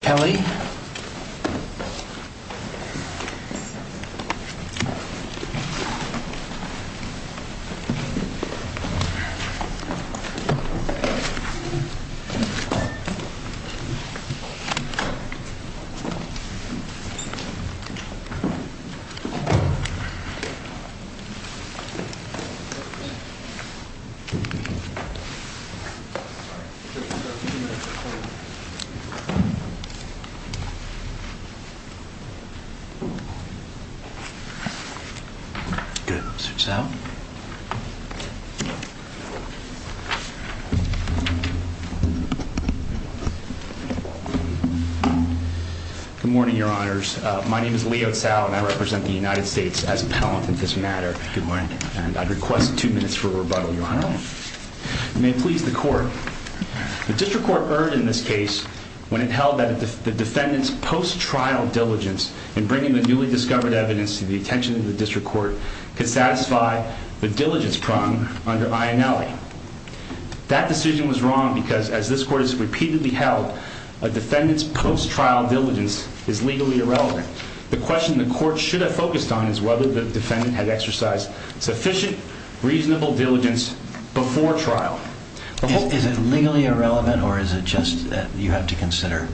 Kelly. Good morning, your honors. My name is Leo Sal, and I represent the United States as a panelist in this matter, and I'd like to request two minutes for rebuttal, your honor. You may please the court. The district court erred in this case when it held that the defendant's post-trial diligence in bringing the newly discovered evidence to the attention of the district court could satisfy the diligence problem under Ionelli. That decision was wrong because as this court has repeatedly held, a defendant's post-trial diligence is legally irrelevant. The question the court should have focused on is whether the defendant had exercised sufficient, reasonable diligence before trial. Is it legally irrelevant, or is it just that you have to consider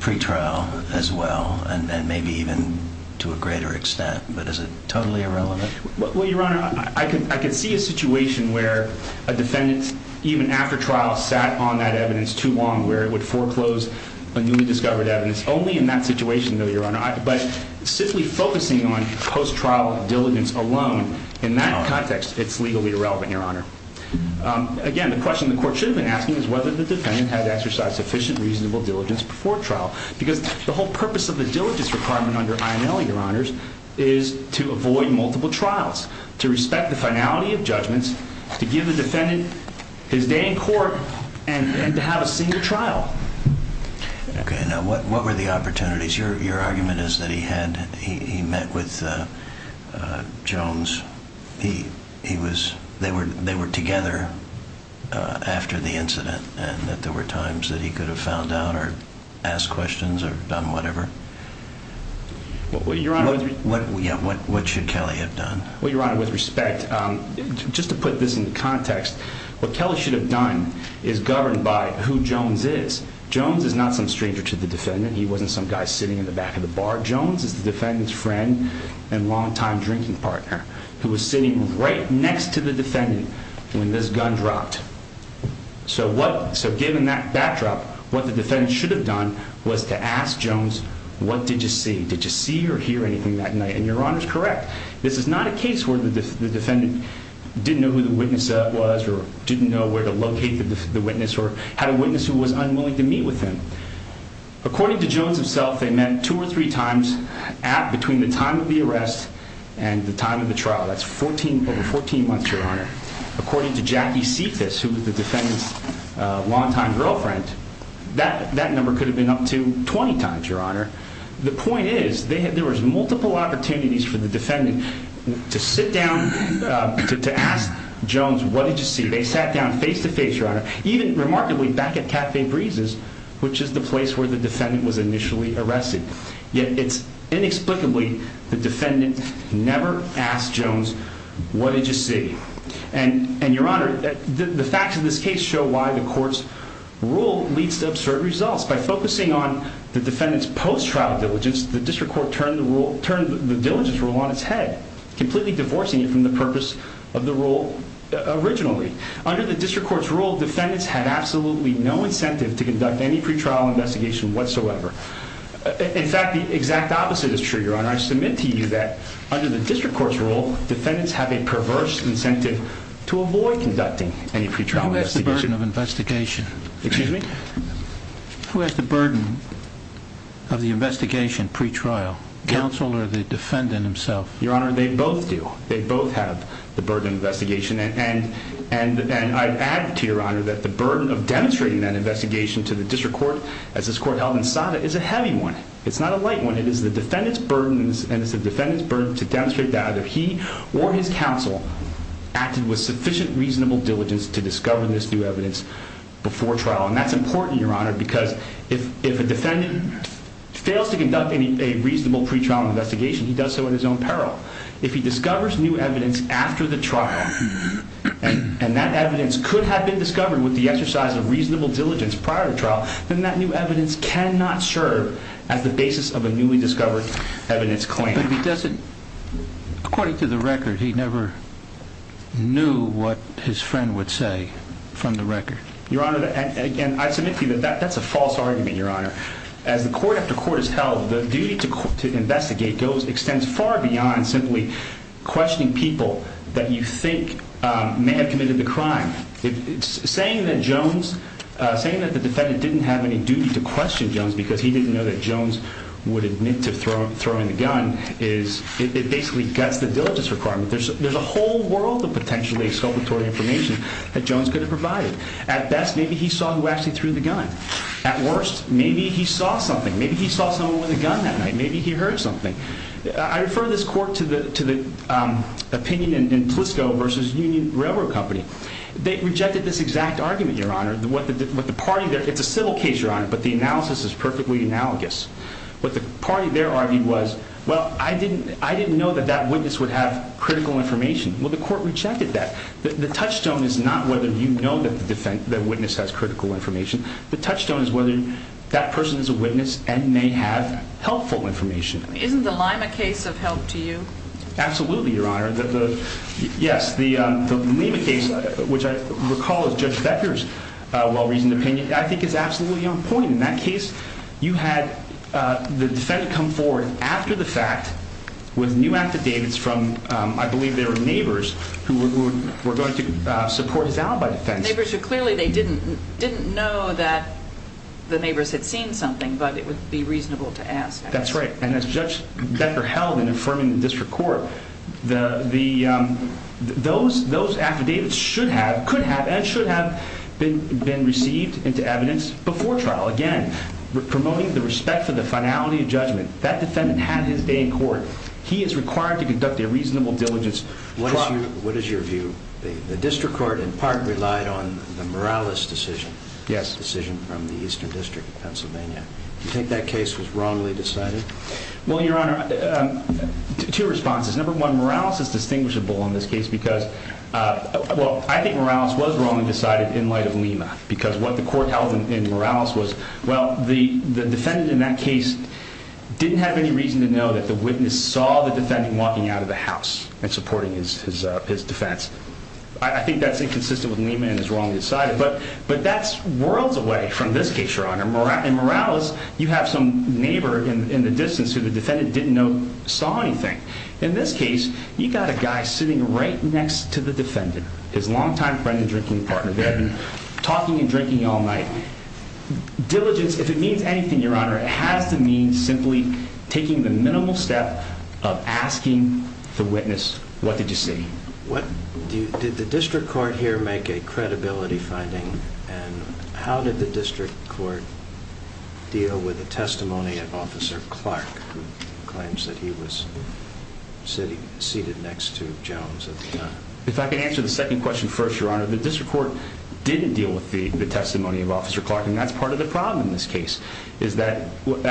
pre-trial as well, and then maybe even to a greater extent, but is it totally irrelevant? Well, your honor, I could see a situation where a defendant, even after trial, sat on that evidence too long, where it would foreclose a newly discovered evidence. Only in that situation, no, your honor. But simply focusing on post-trial diligence alone, in that context, it's legally irrelevant, your honor. Again, the question the court should have been asking is whether the defendant had exercised sufficient, reasonable diligence before trial, because the whole purpose of the diligence requirement under Ionelli, your honors, is to avoid multiple trials, to respect the finality of judgments, to give the defendant his day in court, and to have a single trial. Okay, now what were the opportunities? Your argument is that he met with Jones. They were together after the incident, and that there were times that he could have found out or asked questions or done whatever? What should Kelly have done? Well, your honor, with respect, just to put this into context, what Kelly should have done is governed by who Jones is. Jones is not some stranger to the defendant. He wasn't some guy sitting in the back of the bar. Jones is the defendant's friend and longtime drinking partner, who was sitting right next to the defendant when this gun dropped. So given that backdrop, what the defendant should have done was to ask Jones, what did you see? Did you see or hear anything that night? And your honor's correct. This is not a case where the defendant didn't know who the witness was, or didn't know where to locate the witness, or had a witness who was unwilling to meet with him. According to Jones himself, they met two or three times between the time of the arrest and the time of the trial. That's over 14 months, your honor. According to Jackie Cephas, who was the defendant's longtime girlfriend, that number could have been up to 20 times, your honor. The point is, there was multiple opportunities for the defendant to sit down, to ask Jones, what did you see? They sat down face-to-face, your honor, even, remarkably, back at Cafe Breezes, which is the place where the defendant was initially arrested. Yet, it's inexplicably, the defendant never asked Jones, what did you see? And your honor, the facts of this case show why the court's rule leads to absurd results. By focusing on the defendant's post-trial diligence, the district court turned the diligence rule on its head, completely divorcing it from the purpose of the rule originally. Under the district court's rule, defendants had absolutely no incentive to conduct any pretrial investigation whatsoever. In fact, the exact opposite is true, your honor. I submit to you that, under the district court's rule, defendants have a perverse incentive to avoid conducting any pretrial investigation. Who has the burden of investigation? Excuse me? Who has the burden of the investigation pretrial? Counsel, or the defendant himself? Your honor, they both do. They both have the burden of investigation, and I add to your honor that the burden of demonstrating that investigation to the district court, as this court held in SADA, is a heavy one. It's not a light one. It is the defendant's burden, and it's the defendant's burden to demonstrate that either he or his counsel acted with sufficient reasonable diligence to discover this new evidence before trial. And that's important, your honor, because if a defendant fails to conduct a reasonable pretrial investigation, he does so in his own peril. If he discovers new evidence after the trial, and that evidence could have been discovered with the exercise of reasonable diligence prior to trial, then that new evidence cannot serve as the basis of a newly discovered evidence claim. But he doesn't, according to the record, he never knew what his friend would say from the record. Your honor, and I submit to you that that's a false argument, your honor. As the court after court has held, the duty to investigate extends far beyond simply questioning people that you think may have committed the crime. Saying that Jones, saying that the defendant didn't have any duty to question Jones because he didn't know that Jones would admit to throwing the gun is, it basically guts the diligence requirement. There's a whole world of potentially exculpatory information that Jones could have provided. At best, maybe he saw who actually threw the gun. At worst, maybe he saw something. Maybe he saw someone with a gun that night. Maybe he heard something. I refer this court to the opinion in PLISCO versus Union Railroad Company. They rejected this exact argument, your honor, what the party, it's a civil case, your honor, but the analysis is perfectly analogous. What the party there argued was, well, I didn't know that that witness would have critical information. Well, the court rejected that. The touchstone is not whether you know that the witness has critical information. The touchstone is whether that person is a witness and may have helpful information. Isn't the Lima case of help to you? Absolutely, your honor. Yes, the Lima case, which I recall is Judge Becker's well-reasoned opinion, I think is absolutely on point. In that case, you had the defendant come forward after the fact with new affidavits from, I think, the neighbors who were going to support his alibi defense. Neighbors who clearly they didn't know that the neighbors had seen something, but it would be reasonable to ask. That's right. As Judge Becker held in affirming the district court, those affidavits could have and should have been received into evidence before trial, again, promoting the respect for the finality of judgment. That defendant had his day in court. He is required to conduct a reasonable diligence. What is your view? The district court, in part, relied on the Morales decision from the Eastern District of Pennsylvania. Do you think that case was wrongly decided? Well, your honor, two responses. Number one, Morales is distinguishable in this case because, well, I think Morales was wrongly decided in light of Lima because what the court held in Morales was, well, the defendant in that case didn't have any reason to know that the witness saw the defendant walking out of the house and supporting his defense. I think that's inconsistent with Lima and is wrongly decided, but that's worlds away from this case, your honor. In Morales, you have some neighbor in the distance who the defendant didn't know saw anything. In this case, you got a guy sitting right next to the defendant, his longtime friend and drinking partner. They had been talking and drinking all night. Diligence, if it means anything, your honor, it has to mean simply taking the minimal step of asking the witness, what did you see? Did the district court here make a credibility finding, and how did the district court deal with the testimony of Officer Clark, who claims that he was seated next to Jones at the time? If I could answer the second question first, your honor, the district court didn't deal with the testimony of Officer Clark, and that's part of the problem in this case. Is that, and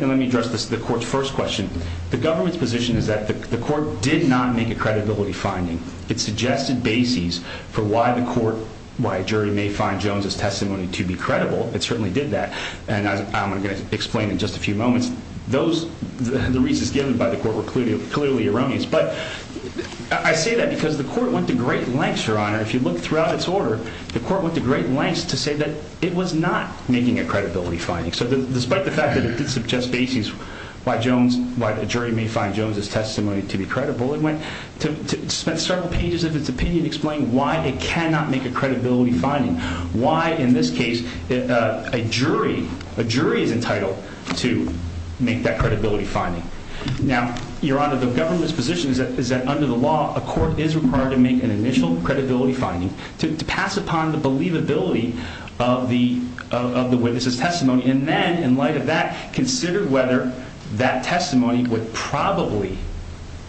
let me address the court's first question. The government's position is that the court did not make a credibility finding. It suggested bases for why the court, why a jury may find Jones's testimony to be credible. It certainly did that, and I'm going to explain in just a few moments, those, the reasons given by the court were clearly erroneous, but I say that because the court went to great lengths, your honor. If you look throughout its order, the court went to great lengths to say that it was not making a credibility finding. So despite the fact that it did suggest bases why Jones, why a jury may find Jones's testimony to be credible, it went to several pages of its opinion explaining why it cannot make a credibility finding. Why in this case, a jury, a jury is entitled to make that credibility finding. Now, your honor, the government's position is that under the law, a court is required to make an initial credibility finding to pass upon the believability of the witness's testimony. And then in light of that, consider whether that testimony would probably,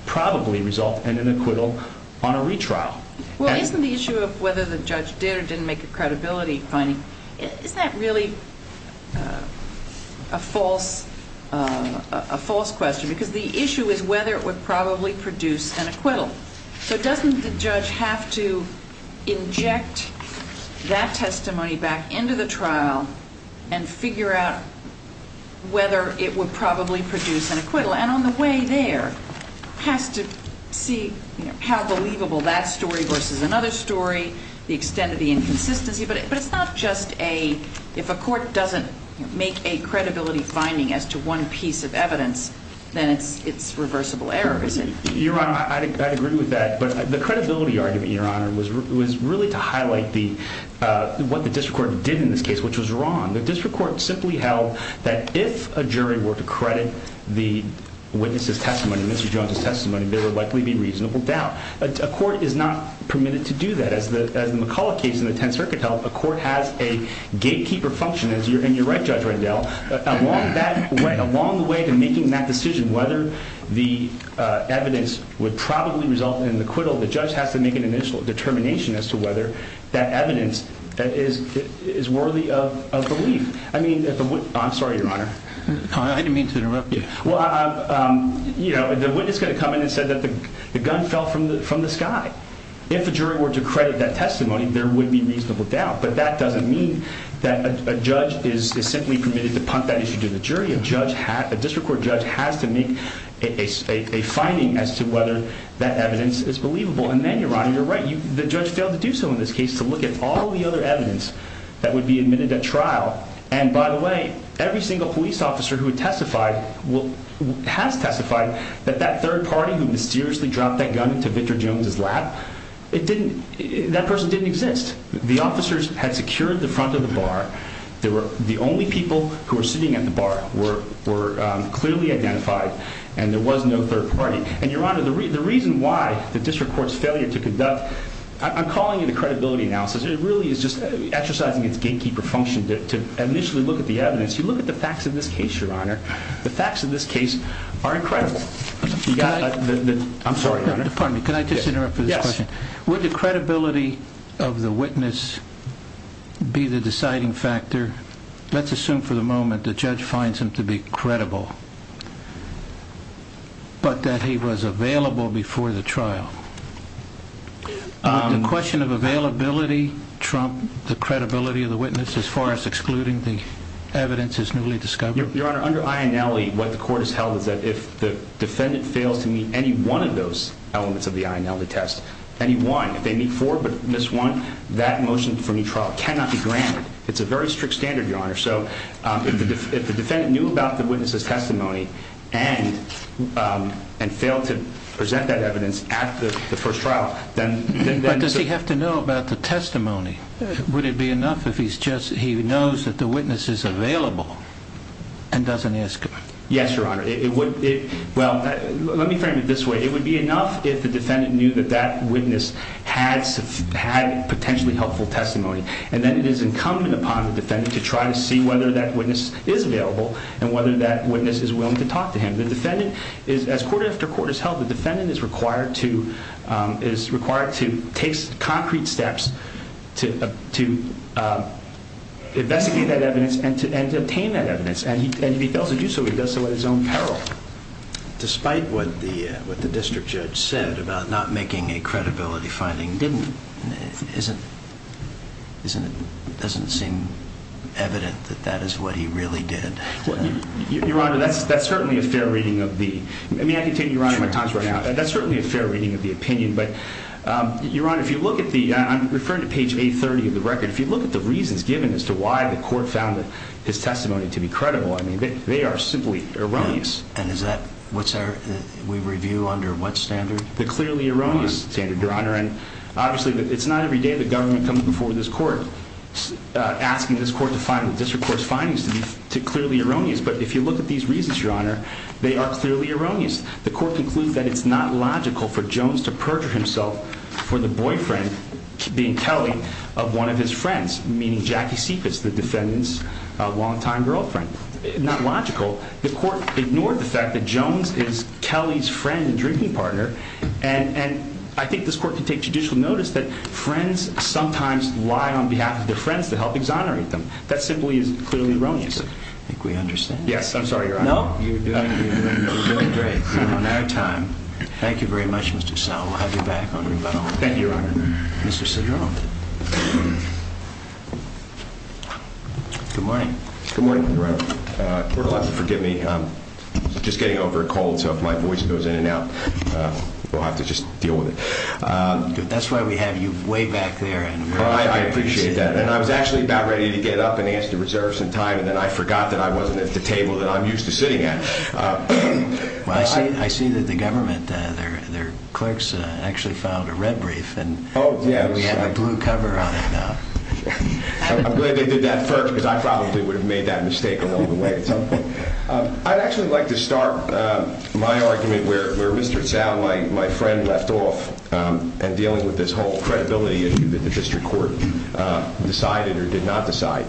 probably result in an acquittal on a retrial. Well, isn't the issue of whether the judge did or didn't make a credibility finding, isn't that really a false, a false question? Because the issue is whether it would probably produce an acquittal. So doesn't the judge have to inject that testimony back into the trial and figure out whether it would probably produce an acquittal and on the way there, has to see how believable that story versus another story, the extent of the inconsistency, but it's not just a, if a court doesn't make a credibility finding as to one piece of evidence, then it's, it's reversible error, is it? Your honor, I'd agree with that, but the credibility argument, your honor, was really to highlight the, uh, what the district court did in this case, which was wrong. The district court simply held that if a jury were to credit the witness's testimony, Mr. Jones's testimony, there would likely be reasonable doubt. A court is not permitted to do that. As the, as the McCullough case in the 10th circuit held, a court has a gatekeeper function as you're, and you're right, Judge Rendell, along that way, along the way to making that decision, whether the, uh, evidence would probably result in an acquittal. The judge has to make an initial determination as to whether that evidence is, is worthy of, of belief. I mean, if it would, I'm sorry, your honor, I didn't mean to interrupt you. Well, um, you know, the witness is going to come in and said that the gun fell from the, from the sky. If a jury were to credit that testimony, there would be reasonable doubt, but that doesn't mean that a judge is simply permitted to punt that issue to the jury. A judge has, a district court judge has to make a, a, a finding as to whether that evidence is believable. And then you're right. You're right. You, the judge failed to do so in this case to look at all the other evidence that would be admitted at trial. And by the way, every single police officer who had testified will, has testified that that third party who mysteriously dropped that gun into Victor Jones's lap, it didn't, that person didn't exist. The officers had secured the front of the bar. There were the only people who were sitting at the bar were, were clearly identified and there was no third party. And your honor, the reason why the district court's failure to conduct, I'm calling it a credibility analysis. It really is just exercising its gatekeeper function to initially look at the evidence. You look at the facts of this case, your honor, the facts of this case are incredible. I'm sorry, your honor. Pardon me. Can I just interrupt for this question? Would the credibility of the witness be the deciding factor? Let's assume for the moment the judge finds him to be credible, but that he was available before the trial. The question of availability, Trump, the credibility of the witness as far as excluding the evidence is newly discovered. Your honor, under Ionelli, what the court has held is that if the defendant fails to meet four but miss one, that motion for new trial cannot be granted. It's a very strict standard, your honor. So if the defendant knew about the witness's testimony and failed to present that evidence at the first trial, then does he have to know about the testimony? Would it be enough if he's just, he knows that the witness is available and doesn't ask him? Yes, your honor. It would. Well, let me frame it this way. It would be enough if the defendant knew that that witness had potentially helpful testimony. And then it is incumbent upon the defendant to try to see whether that witness is available and whether that witness is willing to talk to him. The defendant is, as court after court has held, the defendant is required to take concrete steps to investigate that evidence and to obtain that evidence. And if he fails to do so, he does so at his own peril. Despite what the district judge said about not making a credibility finding, doesn't seem evident that that is what he really did. Your honor, that's certainly a fair reading of the, I mean, I can tell you, your honor, my time's running out. That's certainly a fair reading of the opinion. But your honor, if you look at the, I'm referring to page 830 of the record. If you look at the reasons given as to why the court found his testimony to be credible, I mean, they are simply erroneous. And is that what's our, we review under what standard? The clearly erroneous standard, your honor. And obviously it's not every day the government comes before this court asking this court to find the district court's findings to be clearly erroneous. But if you look at these reasons, your honor, they are clearly erroneous. The court concludes that it's not logical for Jones to perjure himself for the boyfriend, being Kelly, of one of his friends, meaning Jackie Seacrest, the defendant's longtime girlfriend. Not logical. The court ignored the fact that Jones is Kelly's friend and drinking partner. And I think this court can take judicial notice that friends sometimes lie on behalf of their friends to help exonerate them. That simply is clearly erroneous. I think we understand. Yes. I'm sorry, your honor. No. You're doing great. On our time. Thank you very much, Mr. Snow. We'll have you back on rebuttal. Thank you, your honor. Mr. Cedrone. Good morning. Good morning, your honor. The court will have to forgive me. I'm just getting over a cold, so if my voice goes in and out, we'll have to just deal with it. Good. That's why we have you way back there in America. I appreciate that. And I was actually about ready to get up and ask to reserve some time, and then I forgot that I wasn't at the table that I'm used to sitting at. Well, I see that the government, their clerks actually filed a red brief. Oh, yes. And we have a blue cover on it now. I'm glad they did that first, because I probably would have made that mistake along the way at some point. I'd actually like to start my argument where Mr. Tsao, my friend, left off, and dealing with this whole credibility issue that the district court decided or did not decide.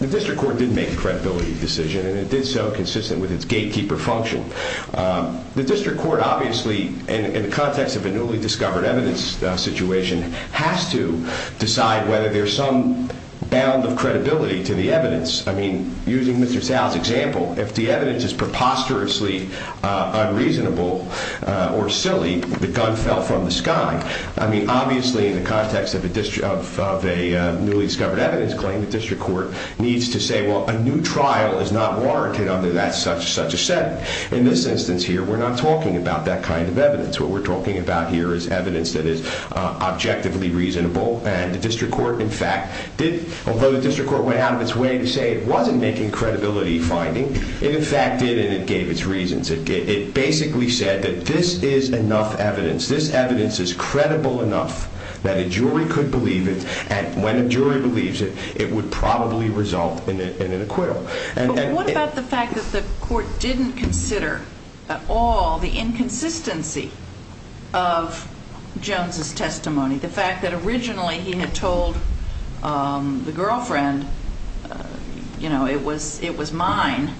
The district court did make a credibility decision, and it did so consistent with its gatekeeper function. The district court obviously, in the context of a newly discovered evidence situation, has to decide whether there's some bound of credibility to the evidence. I mean, using Mr. Tsao's example, if the evidence is preposterously unreasonable or silly, the gun fell from the sky. I mean, obviously, in the context of a newly discovered evidence claim, the district court needs to say, well, a new trial is not warranted under that such and such a setting. In this instance here, we're not talking about that kind of evidence. What we're talking about here is evidence that is objectively reasonable, and the district court, in fact, did, although the district court went out of its way to say it wasn't making credibility finding, it, in fact, did, and it gave its reasons. It basically said that this is enough evidence, this evidence is credible enough that a jury could believe it, and when a jury believes it, it would probably result in an acquittal. But what about the fact that the court didn't consider at all the inconsistency of Jones' testimony, the fact that originally he had told the girlfriend, you know, it was mine,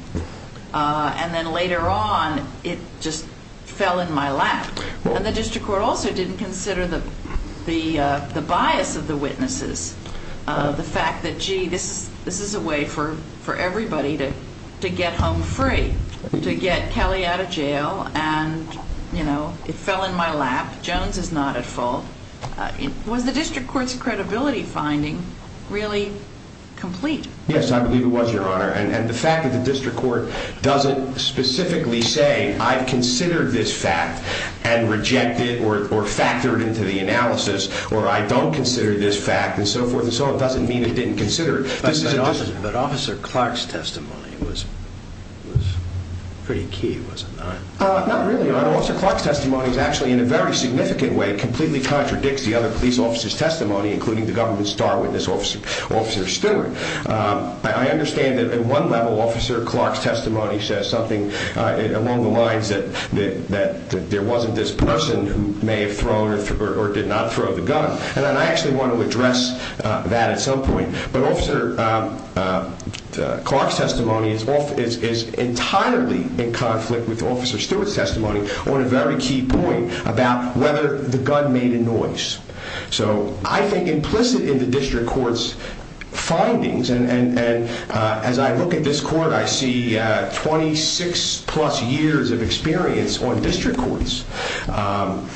and then later on, it just fell in my lap? And the district court also didn't consider the bias of the witnesses, the fact that, you know, maybe this is a way for everybody to get home free, to get Kelly out of jail, and, you know, it fell in my lap. Jones is not at fault. Was the district court's credibility finding really complete? Yes, I believe it was, Your Honor, and the fact that the district court doesn't specifically say I've considered this fact and rejected or factored into the analysis, or I don't consider this fact and so forth and so on doesn't mean it didn't consider it. But Officer Clark's testimony was pretty key, was it not? Not really, Your Honor. Officer Clark's testimony is actually, in a very significant way, completely contradicts the other police officers' testimony, including the government's star witness, Officer Stewart. I understand that at one level, Officer Clark's testimony says something along the lines that there wasn't this person who may have thrown or did not throw the gun. And I actually want to address that at some point. But Officer Clark's testimony is entirely in conflict with Officer Stewart's testimony on a very key point about whether the gun made a noise. So I think implicit in the district court's findings, and as I look at this court, I see 26-plus years of experience on district courts,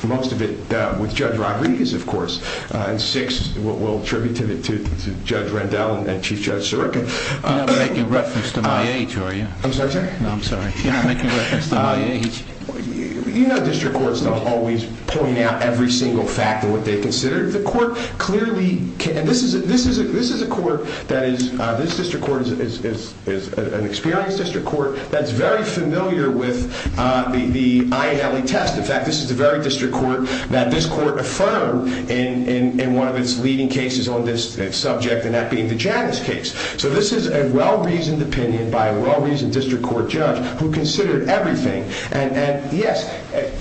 most of it with Judge Rodriguez, of course, and six, we'll attribute to Judge Rendell and Chief Judge Sirica. You're not making reference to my age, are you? I'm sorry, sir? No, I'm sorry. You're not making reference to my age. You know district courts don't always point out every single fact of what they consider. The court clearly can. This is a court that is, this district court is an experienced district court that's very familiar with the I&LE test. In fact, this is the very district court that this court affirmed in one of its leading cases on this subject, and that being the Janus case. So this is a well-reasoned opinion by a well-reasoned district court judge who considered everything. And yes,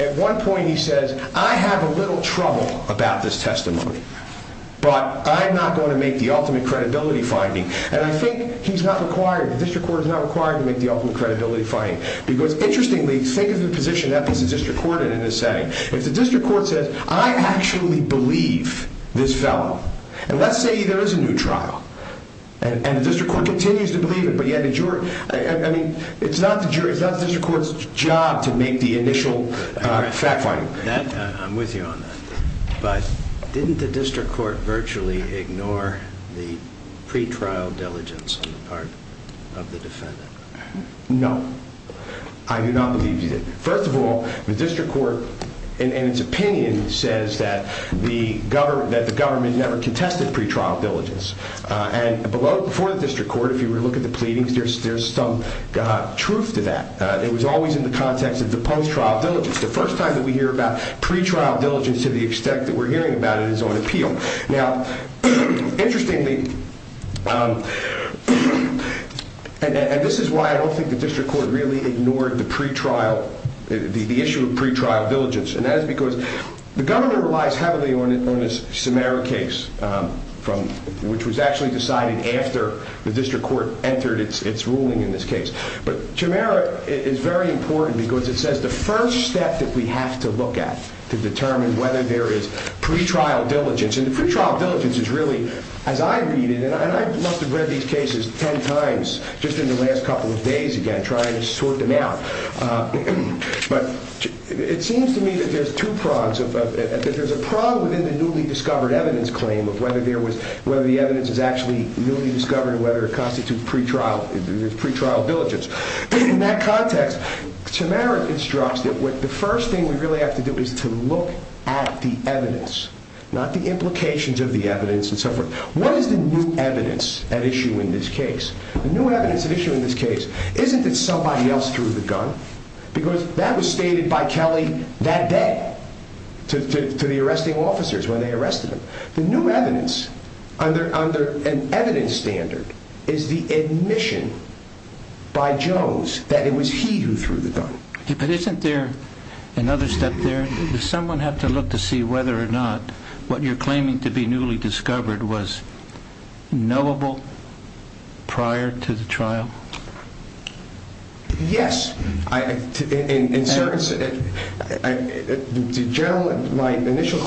at one point he says, I have a little trouble about this testimony, but I'm not going to make the ultimate credibility finding. And I think he's not required, the district court is not required to make the ultimate credibility finding. Because interestingly, think of the position that this district court is in, if the district court says, I actually believe this fellow. And let's say there is a new trial, and the district court continues to believe it, but yet it's not the district court's job to make the initial fact finding. I'm with you on that. But didn't the district court virtually ignore the pretrial diligence on the part of the defendant? No. I do not believe he did. First of all, the district court, in its opinion, says that the government never contested pretrial diligence. And before the district court, if you look at the pleadings, there's some truth to that. It was always in the context of the post-trial diligence. The first time that we hear about pretrial diligence to the extent that we're hearing about it is on appeal. Now, interestingly, and this is why I don't think the district court really ignored the issue of pretrial diligence. And that is because the government relies heavily on the Samara case, which was actually decided after the district court entered its ruling in this case. But Samara is very important because it says the first step that we have to look at to The pretrial diligence is really, as I read it, and I must have read these cases 10 times just in the last couple of days again, trying to sort them out. But it seems to me that there's two prongs. There's a prong within the newly discovered evidence claim of whether the evidence is actually newly discovered and whether it constitutes pretrial diligence. In that context, Samara instructs that the first thing we really have to do is to look at the evidence, not the implications of the evidence and so forth. What is the new evidence at issue in this case? The new evidence at issue in this case isn't that somebody else threw the gun, because that was stated by Kelly that day to the arresting officers when they arrested him. The new evidence under an evidence standard is the admission by Jones that it was he who threw the gun. But isn't there another step there? Does someone have to look to see whether or not what you're claiming to be newly discovered was knowable prior to the trial? Yes. My initial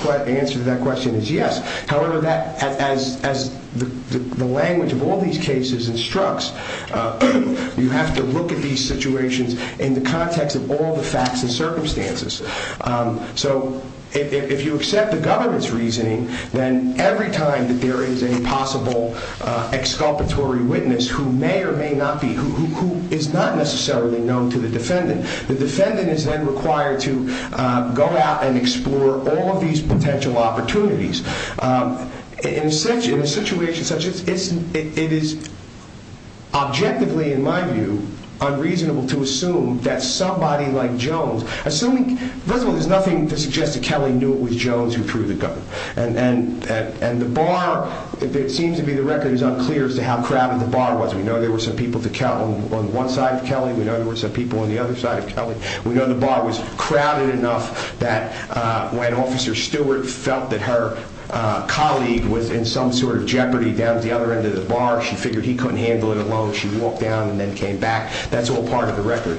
answer to that question is yes. However, as the language of all these cases instructs, you have to look at these situations in the context of all the facts and circumstances. If you accept the government's reasoning, then every time that there is a possible exculpatory witness who may or may not be, who is not necessarily known to the defendant, the defendant is then required to go out and explore all of these potential opportunities. In a situation such as this, it is objectively, in my view, unreasonable to assume that somebody like Jones, assuming, first of all, there's nothing to suggest that Kelly knew it was Jones who threw the gun, and the bar, it seems to be the record is unclear as to how crowded the bar was. We know there were some people on one side of Kelly. We know there were some people on the other side of Kelly. We know the bar was crowded enough that when Officer Stewart felt that her colleague was in some sort of jeopardy down at the other end of the bar, she figured he couldn't handle it alone. She walked down and then came back. That's all part of the record.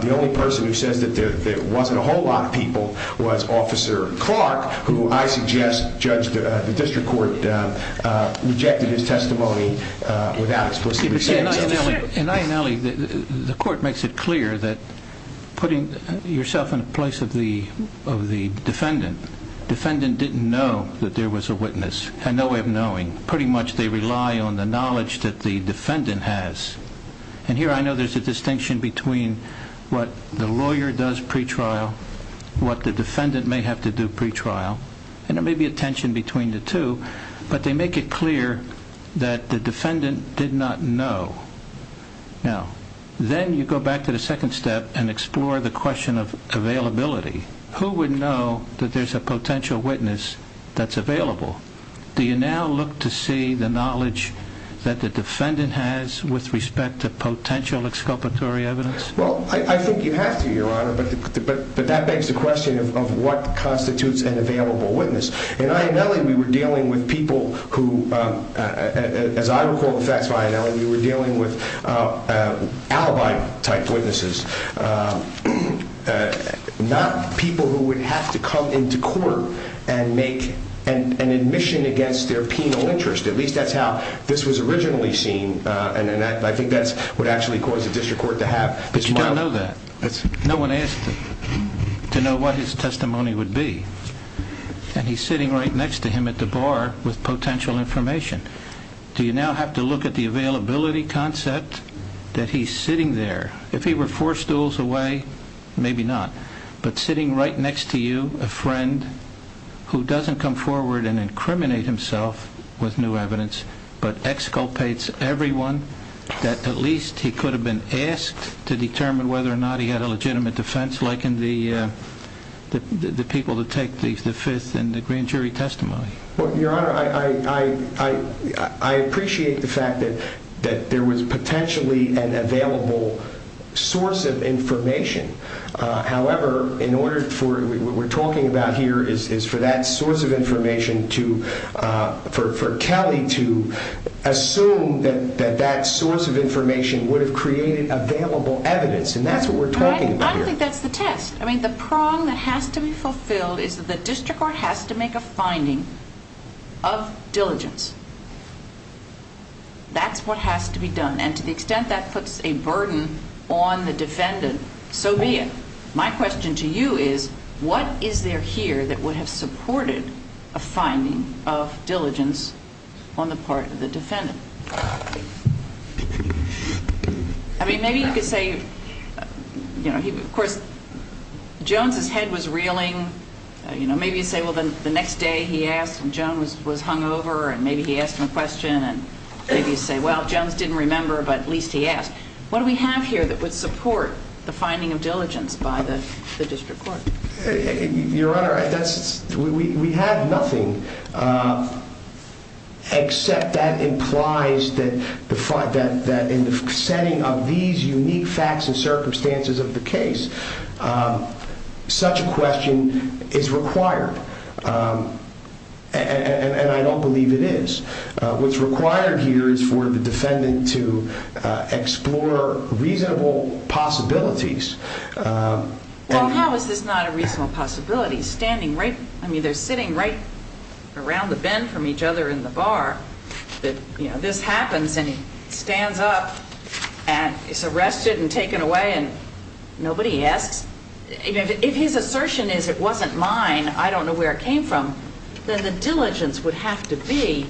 The only person who says that there wasn't a whole lot of people was Officer Clark, who I suggest the district court rejected his testimony without explicitly saying so. In Ionelli, the court makes it clear that putting yourself in a place of the defendant, defendant didn't know that there was a witness, and no way of knowing. Pretty much they rely on the knowledge that the defendant has. Here I know there's a distinction between what the lawyer does pretrial, what the defendant may have to do pretrial, and there may be a tension between the two. But they make it clear that the defendant did not know. Now, then you go back to the second step and explore the question of availability. Who would know that there's a potential witness that's available? Do you now look to see the knowledge that the defendant has with respect to potential exculpatory evidence? Well, I think you have to, Your Honor, but that begs the question of what constitutes an available witness. In Ionelli, we were dealing with people who, as I recall the facts of Ionelli, we were dealing with alibi-type witnesses, not people who would have to come into court and make an admission against their penal interest. At least that's how this was originally seen, and I think that's what actually caused the district court to have this model. But you don't know that. No one asked him to know what his testimony would be. And he's sitting right next to him at the bar with potential information. Do you now have to look at the availability concept that he's sitting there? If he were four stools away, maybe not. But sitting right next to you, a friend who doesn't come forward and incriminate himself with new evidence, but exculpates everyone that at least he could have been asked to the people to take the fifth and the grand jury testimony. Your Honor, I appreciate the fact that there was potentially an available source of information. However, what we're talking about here is for that source of information, for Kelly to assume that that source of information would have created available evidence. I don't think that's the test. I mean, the prong that has to be fulfilled is that the district court has to make a finding of diligence. That's what has to be done. And to the extent that puts a burden on the defendant, so be it. My question to you is, what is there here that would have supported a finding of diligence on the part of the defendant? I mean, maybe you could say, you know, of course, Jones's head was reeling. You know, maybe you say, well, then the next day he asked and Jones was hungover and maybe he asked him a question and maybe you say, well, Jones didn't remember, but at least he asked. What do we have here that would support the finding of diligence by the district court? Your Honor, we have nothing except that implies that in the setting of these unique facts and circumstances of the case, such a question is required and I don't believe it is. What's required here is for the defendant to explore reasonable possibilities. Well, how is this not a reasonable possibility? Standing right, I mean, they're sitting right around the bend from each other in the bar that, you know, this happens and he stands up and is arrested and taken away and nobody asks. If his assertion is it wasn't mine, I don't know where it came from, then the diligence would have to be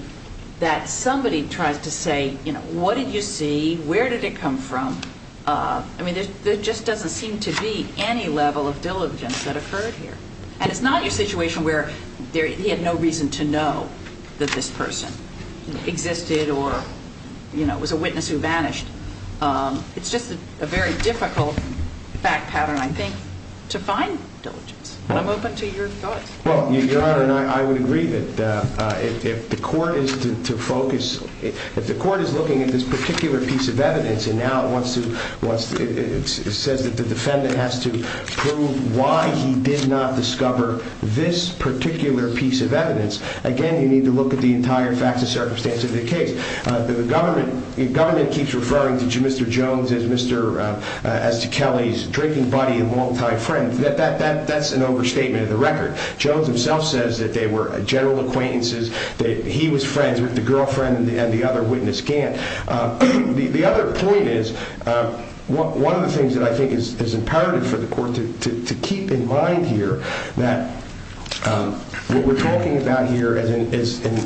that somebody tries to say, you know, what did you see? Where did it come from? I mean, there just doesn't seem to be any level of diligence that occurred here and it's not a situation where he had no reason to know that this person existed or, you know, it was a witness who vanished. It's just a very difficult fact pattern, I think, to find diligence. I'm open to your thoughts. Well, Your Honor, I would agree that if the court is to focus, if the court is looking at this particular piece of evidence and now it says that the defendant has to prove why he did not discover this particular piece of evidence, again, you need to look at the entire facts and circumstances of the case. The government keeps referring to Mr. Jones as to Kelly's drinking buddy and longtime friend. That's an overstatement of the record. Jones himself says that they were general acquaintances, that he was friends with the defendant. The other point is, one of the things that I think is imperative for the court to keep in mind here, that what we're talking about here is in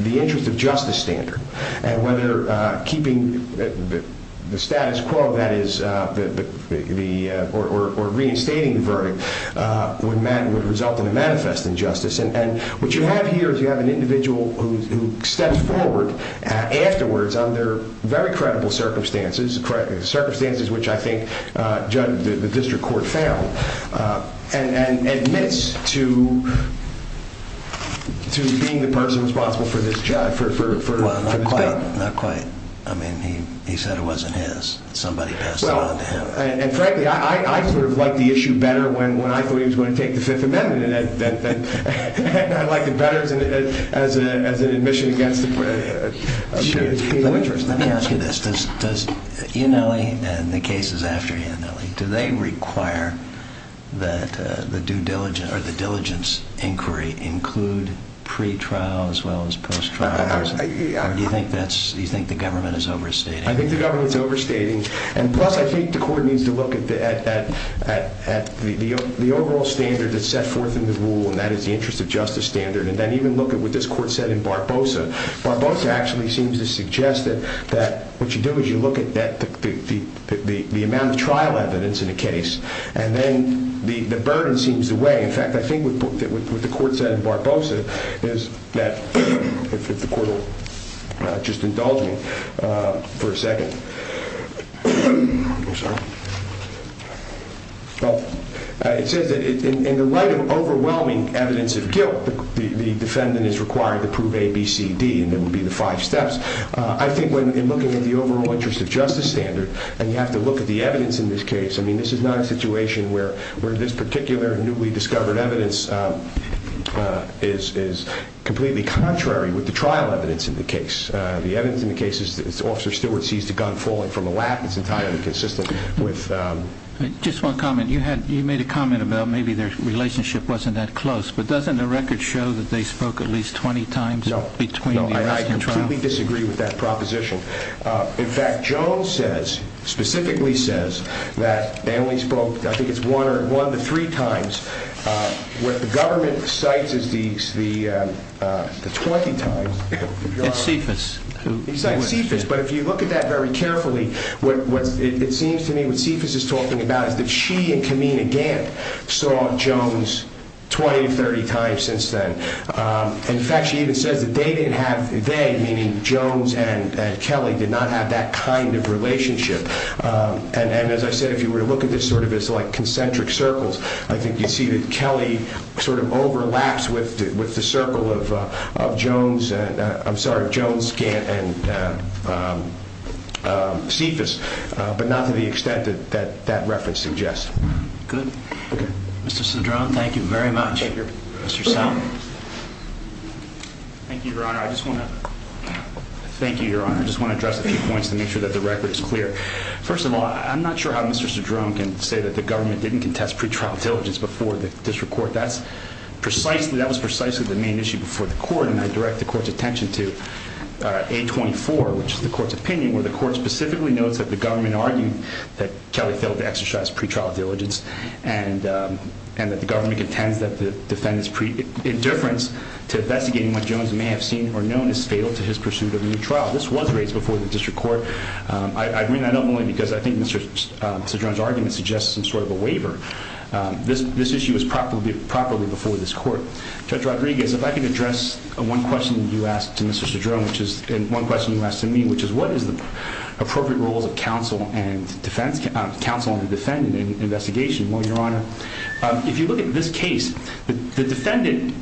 the interest of justice standard and whether keeping the status quo, that is, or reinstating the verdict would result in a manifest injustice. What you have here is you have an individual who steps forward afterwards under very credible circumstances, circumstances which I think the district court found, and admits to being the person responsible for this crime. Well, not quite. He said it wasn't his. Somebody passed it on to him. Frankly, I sort of liked the issue better when I thought he was going to take the Fifth Amendment. I liked it better as an admission against a case of interest. Let me ask you this. Does Iannelli and the cases after Iannelli, do they require that the due diligence or the diligence inquiry include pre-trial as well as post-trial? Do you think the government is overstating? I think the government is overstating. Plus, I think the court needs to look at the overall standard that's set forth in the rule, and that is the interest of justice standard, and then even look at what this court said in Barbosa. Barbosa actually seems to suggest that what you do is you look at the amount of trial evidence in a case, and then the burden seems to weigh. In fact, I think what the court said in Barbosa is that, if the court will just indulge me for a second. I'm sorry. Well, it says that in the light of overwhelming evidence of guilt, the defendant is required to prove A, B, C, D, and that would be the five steps. I think when in looking at the overall interest of justice standard, and you have to look at the evidence in this case, I mean, this is not a situation where this particular newly discovered evidence is completely contrary with the trial evidence in the case. The evidence in the case is that Officer Stewart seized a gun falling from a lap. It's entirely consistent with... Just one comment. You made a comment about maybe their relationship wasn't that close, but doesn't the record show that they spoke at least 20 times between the arrest and trial? No. I completely disagree with that proposition. In fact, Jones says, specifically says, that they only spoke, I think it's one to three times. What the government cites is the 20 times. At CFIS. He cites CFIS, but if you look at that very carefully, what it seems to me what CFIS is talking about is that she and Camina Gantt saw Jones 20, 30 times since then. In fact, she even says that they didn't have, they, meaning Jones and Kelly, did not have that kind of relationship. And as I said, if you were to look at this sort of as like concentric circles, I think you'd see that Kelly sort of overlaps with the circle of Jones and, I'm sorry, Jones Gantt and CFIS, but not to the extent that that reference suggests. Good. Okay. Mr. Cedrone, thank you very much. Thank you. Mr. Salmon. Thank you, Your Honor. I just want to... Thank you, Your Honor. I just want to address a few points to make sure that the record is clear. First of all, I'm not sure how Mr. Cedrone can say that the government didn't contest pretrial diligence before the district court. That's precisely, that was precisely the main issue before the court, and I direct the court's attention to 824, which is the court's opinion, where the court specifically notes that the government argued that Kelly failed to exercise pretrial diligence and that the government contends that the defendant's indifference to investigating what Jones may have seen or known is fatal to his pursuit of a new trial. This was raised before the district court. I bring that up only because I think Mr. Cedrone's argument suggests some sort of a waiver. This issue was properly before this court. Judge Rodriguez, if I could address one question you asked to Mr. Cedrone, which is... And one question you asked to me, which is what is the appropriate roles of counsel and defense... Counsel and the defendant in investigation? Well, Your Honor, if you look at this case, the defendant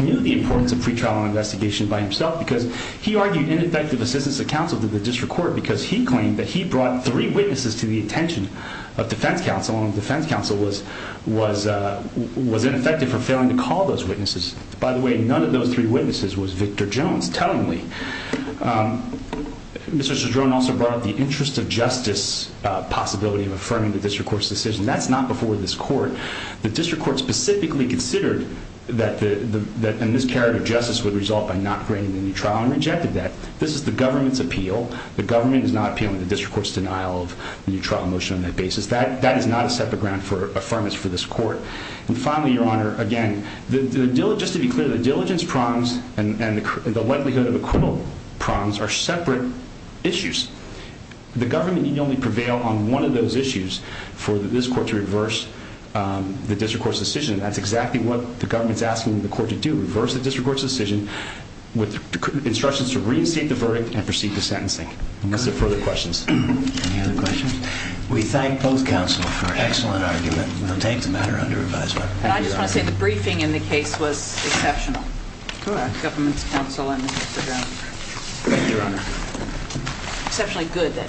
knew the importance of pretrial investigation by himself because he argued ineffective assistance of counsel to the defendant because he claimed that he brought three witnesses to the attention of defense counsel, and the defense counsel was ineffective for failing to call those witnesses. By the way, none of those three witnesses was Victor Jones, tellingly. Mr. Cedrone also brought up the interest of justice possibility of affirming the district court's decision. That's not before this court. The district court specifically considered that a miscarriage of justice would result This is the government's appeal. The government is not appealing the district court's denial of the new trial motion on that basis. That is not a separate ground for affirmance for this court. And finally, Your Honor, again, just to be clear, the diligence prongs and the likelihood of acquittal prongs are separate issues. The government need only prevail on one of those issues for this court to reverse the district court's decision. That's exactly what the government's asking the court to do, reverse the district court's decision with instructions to reinstate the verdict and proceed to sentencing. Unless there are further questions. Any other questions? We thank both counsel for an excellent argument. We'll take the matter under revisal. And I just want to say the briefing in the case was exceptional. Go ahead. The government's counsel and Mr. Cedrone. Thank you, Your Honor. Exceptionally good, that is. Thank you. Thank you. Thank you. Thank you. Thank you. Thank you. Thank you. Thank you. Thank you. Thank you. Thank you. Thank you.